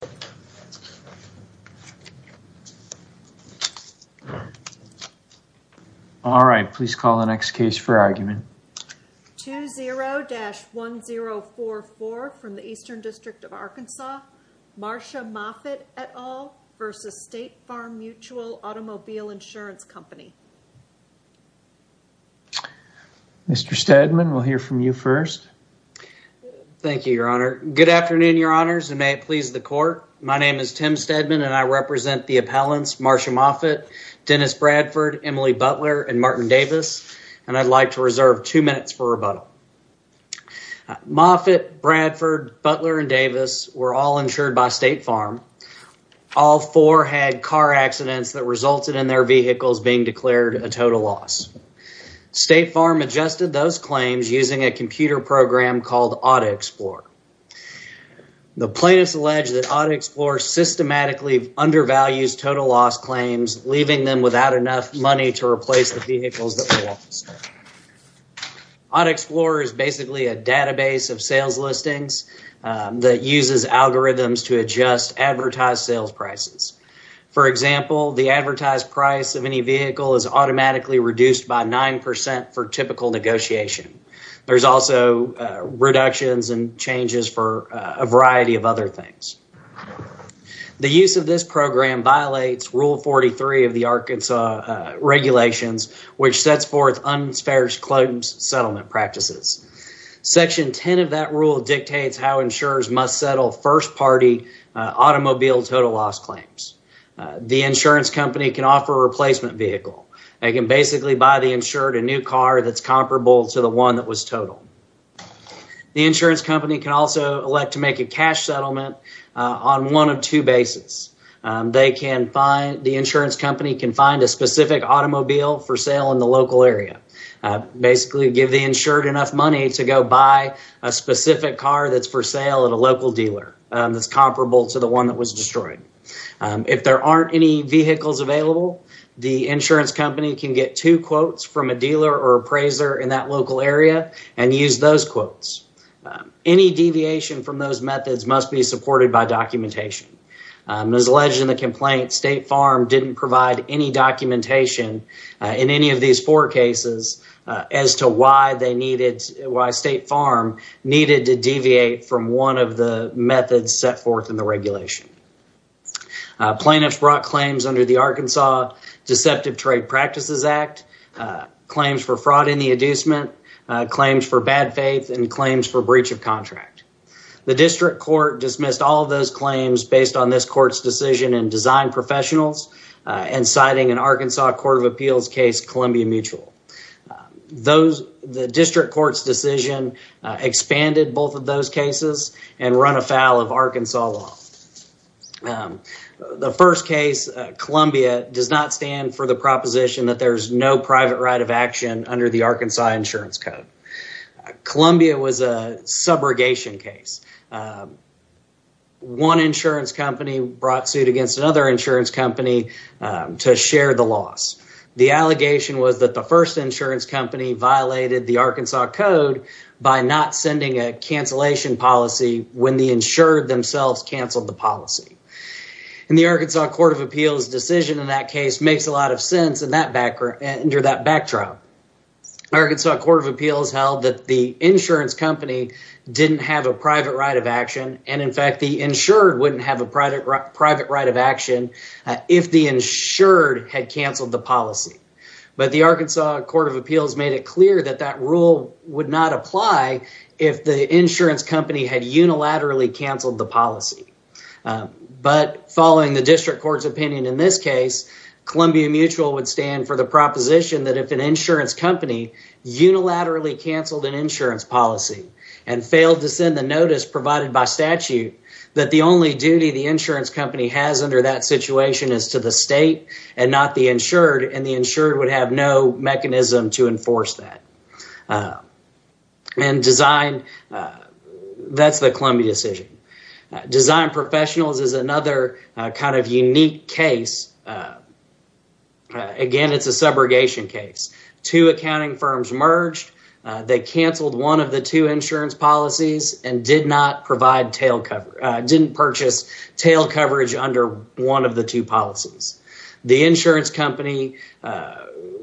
Mr. Steadman, we'll hear from you first. Thank you, your honor. Good afternoon, your name is Tim Steadman, and I represent the appellants Marsha Moffitt, Dennis Bradford, Emily Butler, and Martin Davis, and I'd like to reserve two minutes for rebuttal. Moffitt, Bradford, Butler, and Davis were all insured by State Farm. All four had car accidents that resulted in their vehicles being declared a total loss. State Farm adjusted those claims using a computer program called Auto Explorer. The plaintiffs allege that Auto Explorer systematically undervalues total loss claims, leaving them without enough money to replace the vehicles that were lost. Auto Explorer is basically a database of sales listings that uses algorithms to adjust advertised sales prices. For example, the advertised price of any vehicle is automatically reduced by nine percent for typical negotiation. There's also reductions and changes for a variety of other things. The use of this program violates rule 43 of the Arkansas regulations, which sets forth unfair settlement practices. Section 10 of that rule dictates how insurers must settle first-party automobile total loss claims. The insurance company can offer a replacement vehicle. They can basically buy the insured a new car that's can also elect to make a cash settlement on one of two bases. The insurance company can find a specific automobile for sale in the local area, basically give the insured enough money to go buy a specific car that's for sale at a local dealer that's comparable to the one that was destroyed. If there aren't any vehicles available, the insurance company can get two quotes from a Any deviation from those methods must be supported by documentation. As alleged in the complaint, State Farm didn't provide any documentation in any of these four cases as to why State Farm needed to deviate from one of the methods set forth in the regulation. Plaintiffs brought claims under the Arkansas Deceptive Trade Practices Act, claims for fraud in the inducement, claims for bad faith, and claims for breach of contract. The district court dismissed all of those claims based on this court's decision and design professionals and citing an Arkansas Court of Appeals case Columbia Mutual. The district court's decision expanded both of those cases and run afoul of Arkansas law. The first case, Columbia, does not stand for the proposition that there's no private right of action under the Arkansas Insurance Code. Columbia was a subrogation case. One insurance company brought suit against another insurance company to share the loss. The allegation was that the first insurance company violated the Arkansas Code by not sending a cancellation policy when the insured themselves canceled the policy. The Arkansas Court of Appeals' decision in that case makes a lot of sense under that backdrop. The Arkansas Court of Appeals held that the insurance company didn't have a private right of action. In fact, the insured wouldn't have a private right of action if the insured had canceled the policy. The Arkansas Court of Appeals made it clear that that rule would not apply if the insurance company had unilaterally canceled the policy. But following the district court's opinion in this case, Columbia Mutual would stand for the proposition that if an insurance company unilaterally canceled an insurance policy and failed to send the notice provided by statute, that the only duty the insurance company has under that situation is to the state and not the insured, and the insured would have no mechanism to enforce that. That's the Columbia decision. Design Professionals is another kind of unique case. Again, it's a subrogation case. Two accounting firms merged. They canceled one of the two insurance policies and didn't purchase tail coverage under one of the two policies.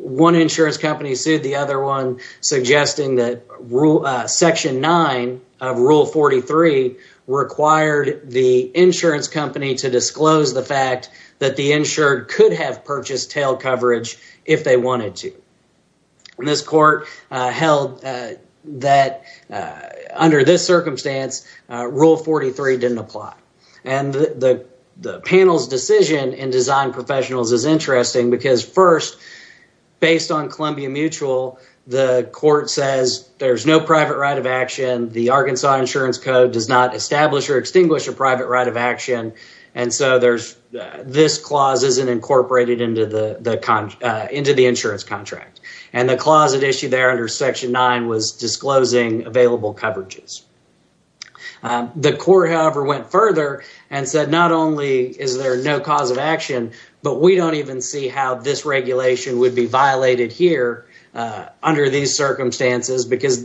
One insurance company sued the other one, suggesting that Section 9 of Rule 43 required the insurance company to disclose the fact that the insured could have purchased tail coverage if they wanted to. This court held that under this circumstance, Rule 43 didn't apply, and the panel's decision in Design Professionals is interesting because first, based on Columbia Mutual, the court says there's no private right of action. The Arkansas Insurance Code does not establish or extinguish a private right of action, and so this clause isn't incorporated into the insurance contract, and the clause that issued there under Section 9 was disclosing available coverages. The court, however, went further and said not only is there no cause of action, but we don't even see how this regulation would be violated here under these circumstances because,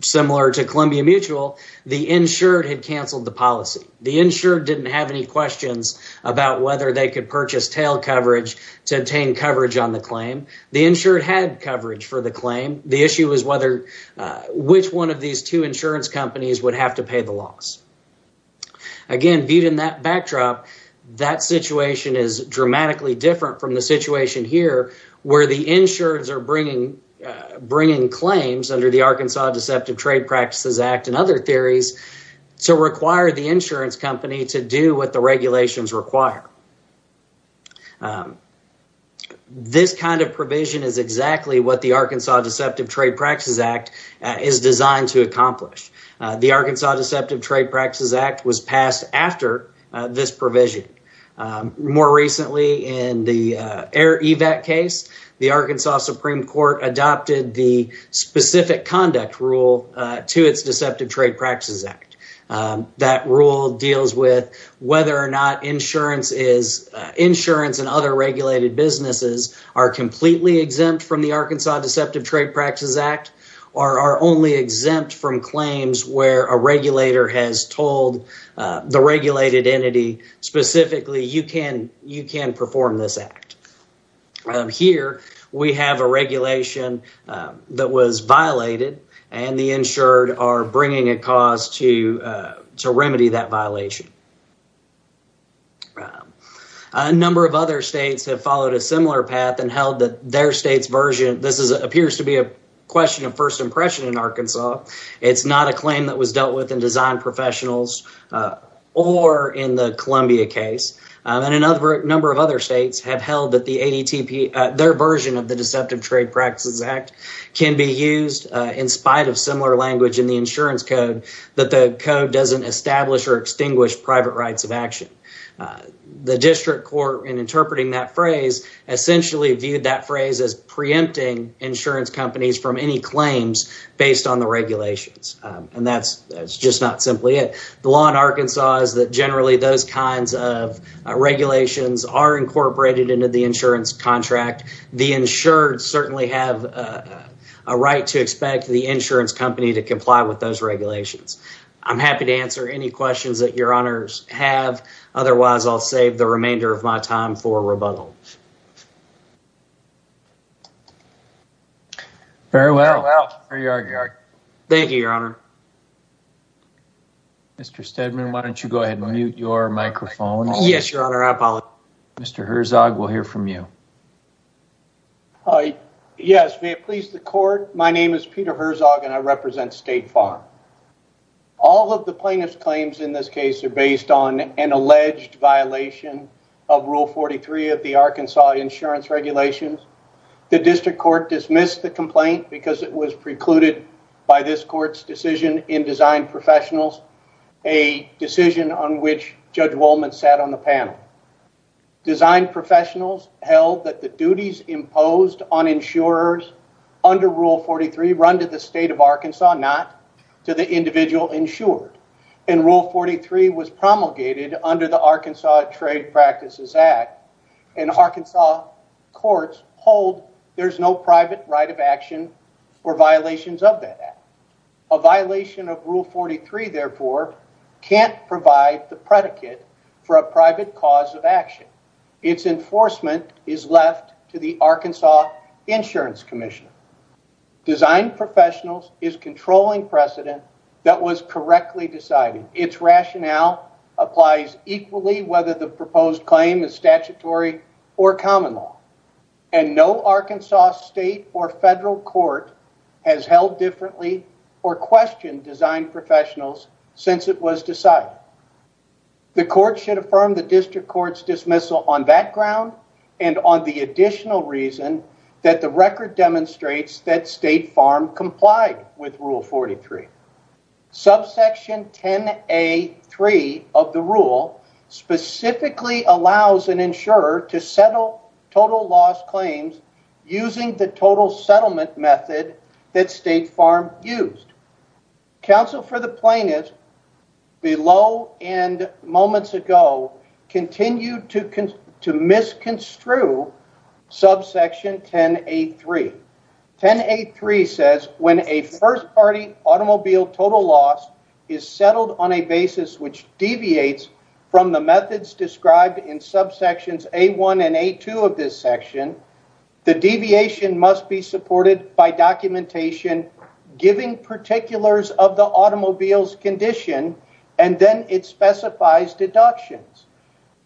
similar to Columbia Mutual, the insured had canceled the policy. The insured didn't have any questions about whether they could purchase tail coverage to obtain coverage on the claim. The insured had coverage for the claim. The issue was which one of these two insurance companies would have to pay the loss. Again, viewed in that backdrop, that situation is dramatically different from the situation here where the insureds are bringing claims under the Arkansas Deceptive Trade Practices Act and other provisions. This kind of provision is exactly what the Arkansas Deceptive Trade Practices Act is designed to accomplish. The Arkansas Deceptive Trade Practices Act was passed after this provision. More recently, in the EIR-EVAC case, the Arkansas Supreme Court adopted the specific conduct rule to its Deceptive Trade Practices Act. That rule deals with whether or insurance and other regulated businesses are completely exempt from the Arkansas Deceptive Trade Practices Act or are only exempt from claims where a regulator has told the regulated entity specifically, you can perform this act. Here, we have a regulation that was violated and the insured are bringing a cause to remedy that violation. A number of other states have followed a similar path and held that their state's version, this appears to be a question of first impression in Arkansas. It's not a claim that was dealt with in design professionals or in the Columbia case. A number of other states have held that their version of the Deceptive Trade Practices Act can be used in spite of similar language in the insurance code that the code doesn't establish or extinguish private rights of action. The district court, in interpreting that phrase, essentially viewed that phrase as preempting insurance companies from any claims based on the regulations. And that's just not simply it. The law in Arkansas is that generally those kinds of regulations are incorporated into the insurance contract. The insured certainly have a right to expect the insurance company to comply with those regulations. I'm happy to answer any questions you may have. Otherwise, I'll save the remainder of my time for rebuttal. Very well. Thank you, Your Honor. Mr. Steadman, why don't you go ahead and mute your microphone? Yes, Your Honor, I apologize. Mr. Herzog, we'll hear from you. Yes, may it please the court. My name is Peter Herzog and I represent State Farm. All of the plaintiff's claims in this case are based on an alleged violation of Rule 43 of the Arkansas Insurance Regulations. The district court dismissed the complaint because it was precluded by this court's decision in Designed Professionals, a decision on which Judge Wolman sat on the panel. Designed Professionals held that the duties imposed on insurers under Rule 43 run to the individual insured. And Rule 43 was promulgated under the Arkansas Trade Practices Act. And Arkansas courts hold there's no private right of action for violations of that act. A violation of Rule 43, therefore, can't provide the predicate for a private cause of action. Its enforcement is left to the Arkansas Insurance Commission. Designed Professionals is controlling precedent that was correctly decided. Its rationale applies equally whether the proposed claim is statutory or common law. And no Arkansas state or federal court has held differently or questioned Designed Professionals since it was decided. The court should affirm the district court's dismissal on that ground and on the additional reason that the record demonstrates that State Farm's claim is not statutory under Rule 43. Subsection 10A3 of the rule specifically allows an insurer to settle total loss claims using the total settlement method that State Farm used. Counsel for the plaintiff below and moments ago continued to misconstrue subsection 10A3. 10A3 says when a first party automobile total loss is settled on a basis which deviates from the methods described in subsections A1 and A2 of this section, the deviation must be supported by documentation giving particulars of the automobile's condition and then it specifies deductions.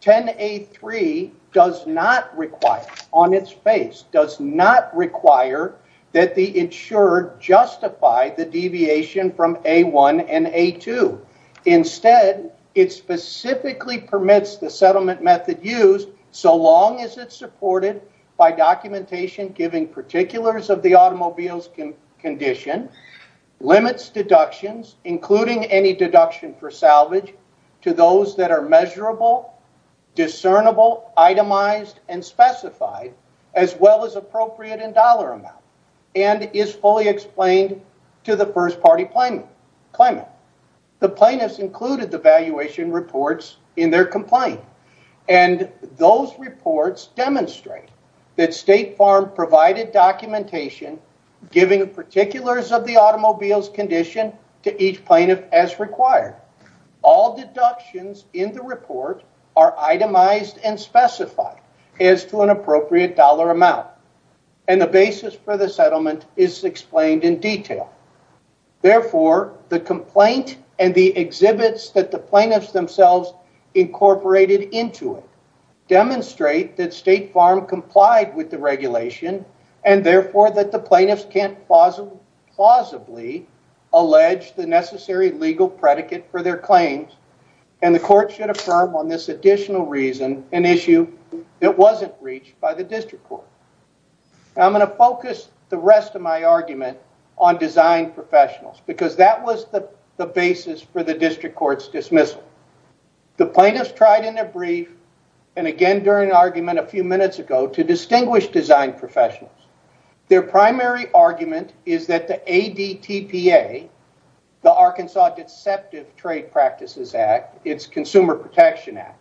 10A3 does not require, on its face, does not require that the insurer justify the deviation from A1 and A2. Instead, it specifically permits the settlement method used so long as it's of the automobile's condition, limits deductions including any deduction for salvage to those that are measurable, discernible, itemized and specified as well as appropriate in dollar amount and is fully explained to the first party claimant. The plaintiffs included the valuation reports in their complaint. And those reports demonstrate that State Farm provided documentation giving particulars of the automobile's condition to each plaintiff as required. All deductions in the report are itemized and specified as to an appropriate dollar amount. And the basis for the settlement is explained in detail. Therefore, the complaint and the exhibits that the plaintiffs themselves incorporated into it demonstrate that State Farm complied with the regulation and therefore that the plaintiffs can't plausibly allege the necessary legal predicate for their claims and the court should affirm on this additional reason an issue that wasn't reached by the district court. I'm going to focus the rest of my argument on design professionals because that was the basis for the district court's dismissal. The plaintiffs tried in a brief and again during an argument a few minutes ago to distinguish design professionals. Their primary argument is that the ADTPA, the Arkansas Deceptive Trade Practices Act, its Consumer Protection Act,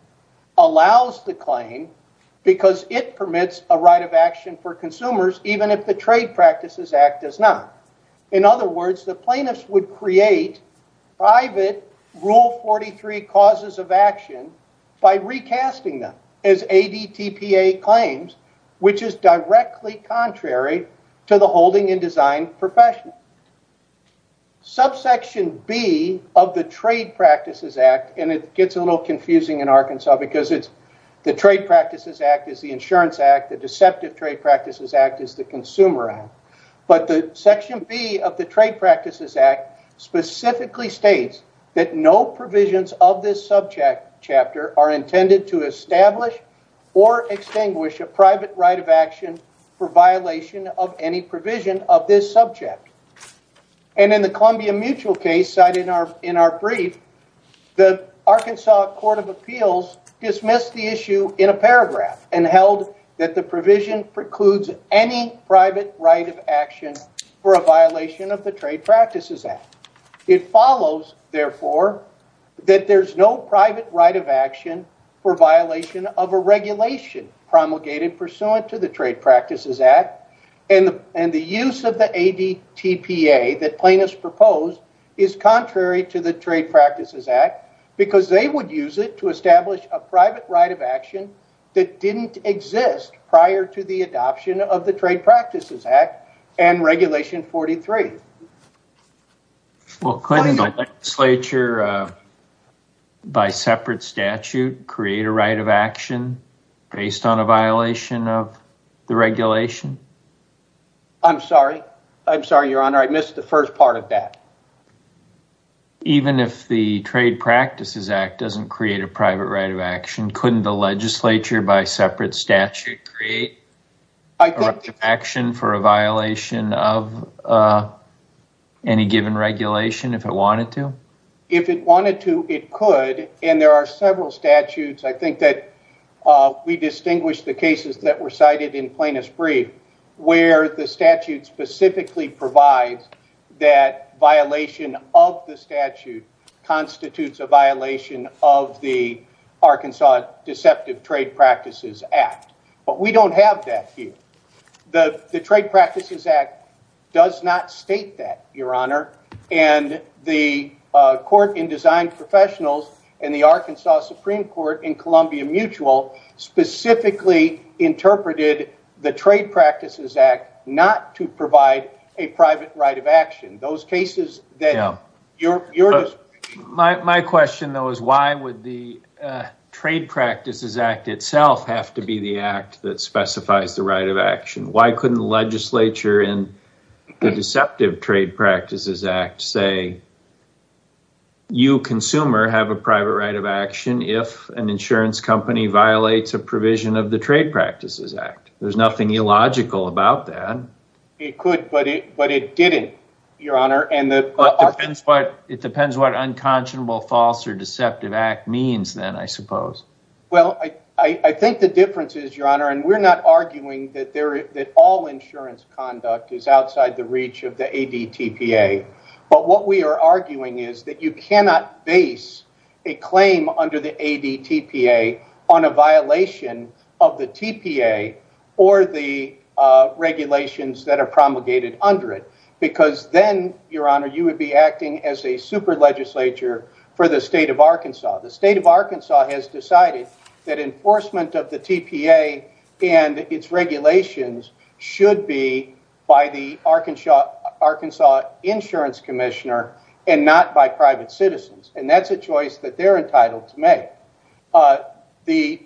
allows the claim because it permits a right of action for consumers even if the Trade Practices Act does not. In other words, the plaintiffs would create private rule 43 causes of action by recasting them as ADTPA claims which is directly contrary to the holding in design professional. Subsection B of the Trade Practices Act, and it gets a little confusing in Arkansas because it's the Trade Practices Act is the Consumer Act, but the Section B of the Trade Practices Act specifically states that no provisions of this subject chapter are intended to establish or extinguish a private right of action for violation of any provision of this subject. And in the Columbia Mutual case cited in our brief, the Arkansas Court of Appeals dismissed the issue in a paragraph and held that the private right of action for a violation of the Trade Practices Act. It follows, therefore, that there's no private right of action for violation of a regulation promulgated pursuant to the Trade Practices Act, and the use of the ADTPA that plaintiffs proposed is contrary to the Trade Practices Act because they would use it to establish a private right of action that didn't exist prior to the adoption of the Trade Practices Act and Regulation 43. Well, couldn't a legislature by separate statute create a right of action based on a violation of the regulation? I'm sorry. I'm sorry, Your Honor. I missed the first part of that. Even if the Trade Practices Act doesn't create a private right of action, couldn't the legislature by separate statute create a right of action for a violation of any given regulation if it wanted to? If it wanted to, it could, and there are several statutes, I think, that we distinguish the cases that were cited in Plaintiff's brief where the statute specifically provides that violation of the statute constitutes a violation of the Arkansas Deceptive Trade Practices Act, but we don't have that here. The Trade Practices Act does not state that, Your Honor, and the Court in Design Professionals and the Arkansas Supreme Court in Columbia Mutual specifically interpreted the Trade Practices Act not to provide a private right of action. My question, though, is why would the Trade Practices Act itself have to be the act that specifies the right of action? Why couldn't the legislature in the Deceptive Trade Practices Act say you, consumer, have a private right of action if an insurance company violates a provision of the Trade Practices Act? There's nothing illogical about that. It could, but it didn't, Your Honor. It depends what unconscionable false or deceptive act means then, I suppose. Well, I think the difference is, Your Honor, and we're not arguing that all insurance conduct is outside the reach of the ADTPA, but what we are arguing is that you cannot base a claim under the ADTPA on a violation of the TPA or the regulations that are promulgated under it because then, Your Honor, you would be acting as a super legislature for the state of Arkansas. The state of Arkansas has decided that enforcement of the TPA and its regulations should be by the Arkansas Insurance Commissioner and not by private citizens, and that's a choice that they're entitled to make. The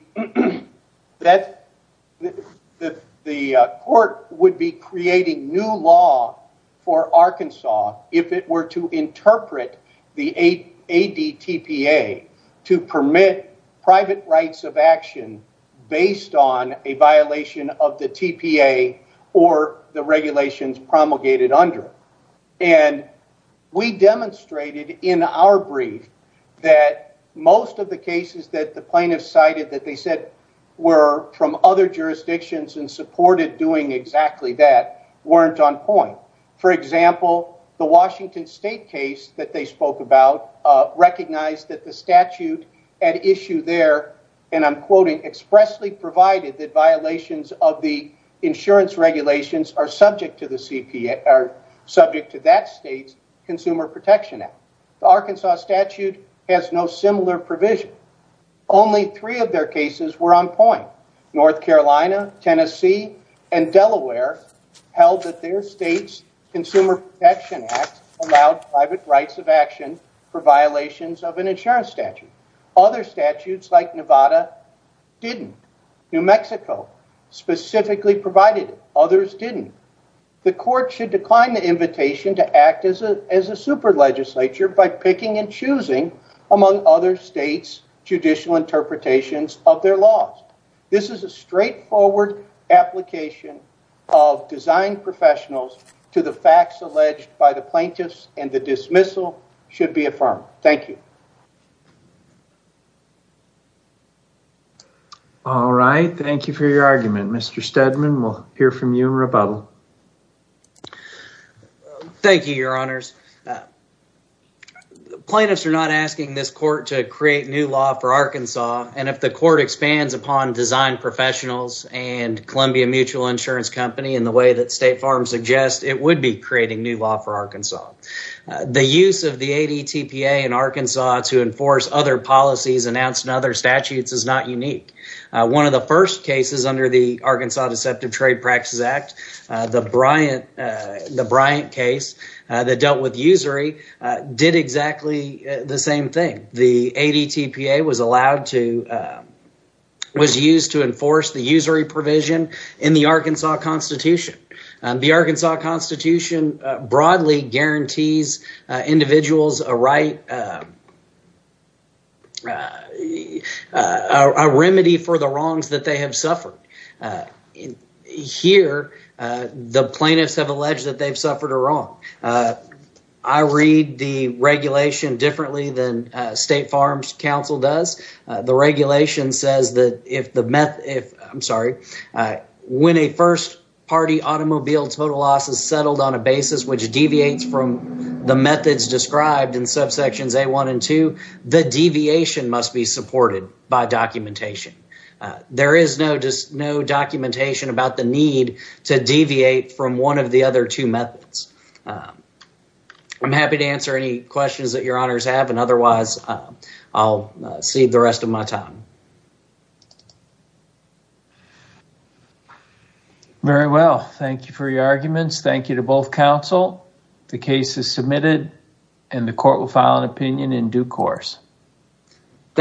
court would be creating new law for Arkansas if it were to interpret the ADTPA to permit private rights of action based on a violation of the TPA or the regulations promulgated under it, and we demonstrated in our brief that most of the cases that the plaintiffs cited that they said were from other jurisdictions and supported doing exactly that weren't on point. For example, the Washington State case that they spoke about recognized that the statute at issue there, and I'm quoting, expressly provided that violations of the insurance regulations are subject to that state's Consumer Protection Act. The Arkansas statute has no similar provision. Only three of their cases were on point. North Carolina, Tennessee, and Delaware held that their state's Consumer Protection Act allowed private rights of action for violations of an insurance statute. Other statutes like Nevada didn't. New Mexico specifically provided it. Others didn't. The court should decline the invitation to act as a super legislature by picking and choosing among other states' judicial interpretations of their laws. This is a straightforward application of design professionals to the facts alleged by the plaintiffs, and the dismissal should be a unanimous decision. All right. Thank you for your argument. Mr. Steadman, we'll hear from you in rebuttal. Thank you, your honors. Plaintiffs are not asking this court to create new law for Arkansas, and if the court expands upon design professionals and Columbia Mutual Insurance Company in the way that State Farm suggests, it would be creating new law for Arkansas. The use of the ADTPA in other statutes is not unique. One of the first cases under the Arkansas Deceptive Trade Practices Act, the Bryant case that dealt with usury, did exactly the same thing. The ADTPA was used to enforce the usury provision in the Arkansas Constitution. The Arkansas Constitution broadly guarantees individuals a right, a remedy for the wrongs that they have suffered. Here, the plaintiffs have alleged that they've suffered a wrong. I read the regulation differently than State Farm's counsel does. The regulation says that if the meth, I'm sorry, when a first party automobile total loss is settled on a basis which deviates from the methods described in subsections A1 and 2, the deviation must be supported by documentation. There is no documentation about the need to deviate from one of the other two methods. I'm happy to answer any questions that your honors have, and otherwise I'll cede the rest of my time. Thank you for your arguments. Thank you to both counsel. The case is submitted and the court will file an opinion in due course.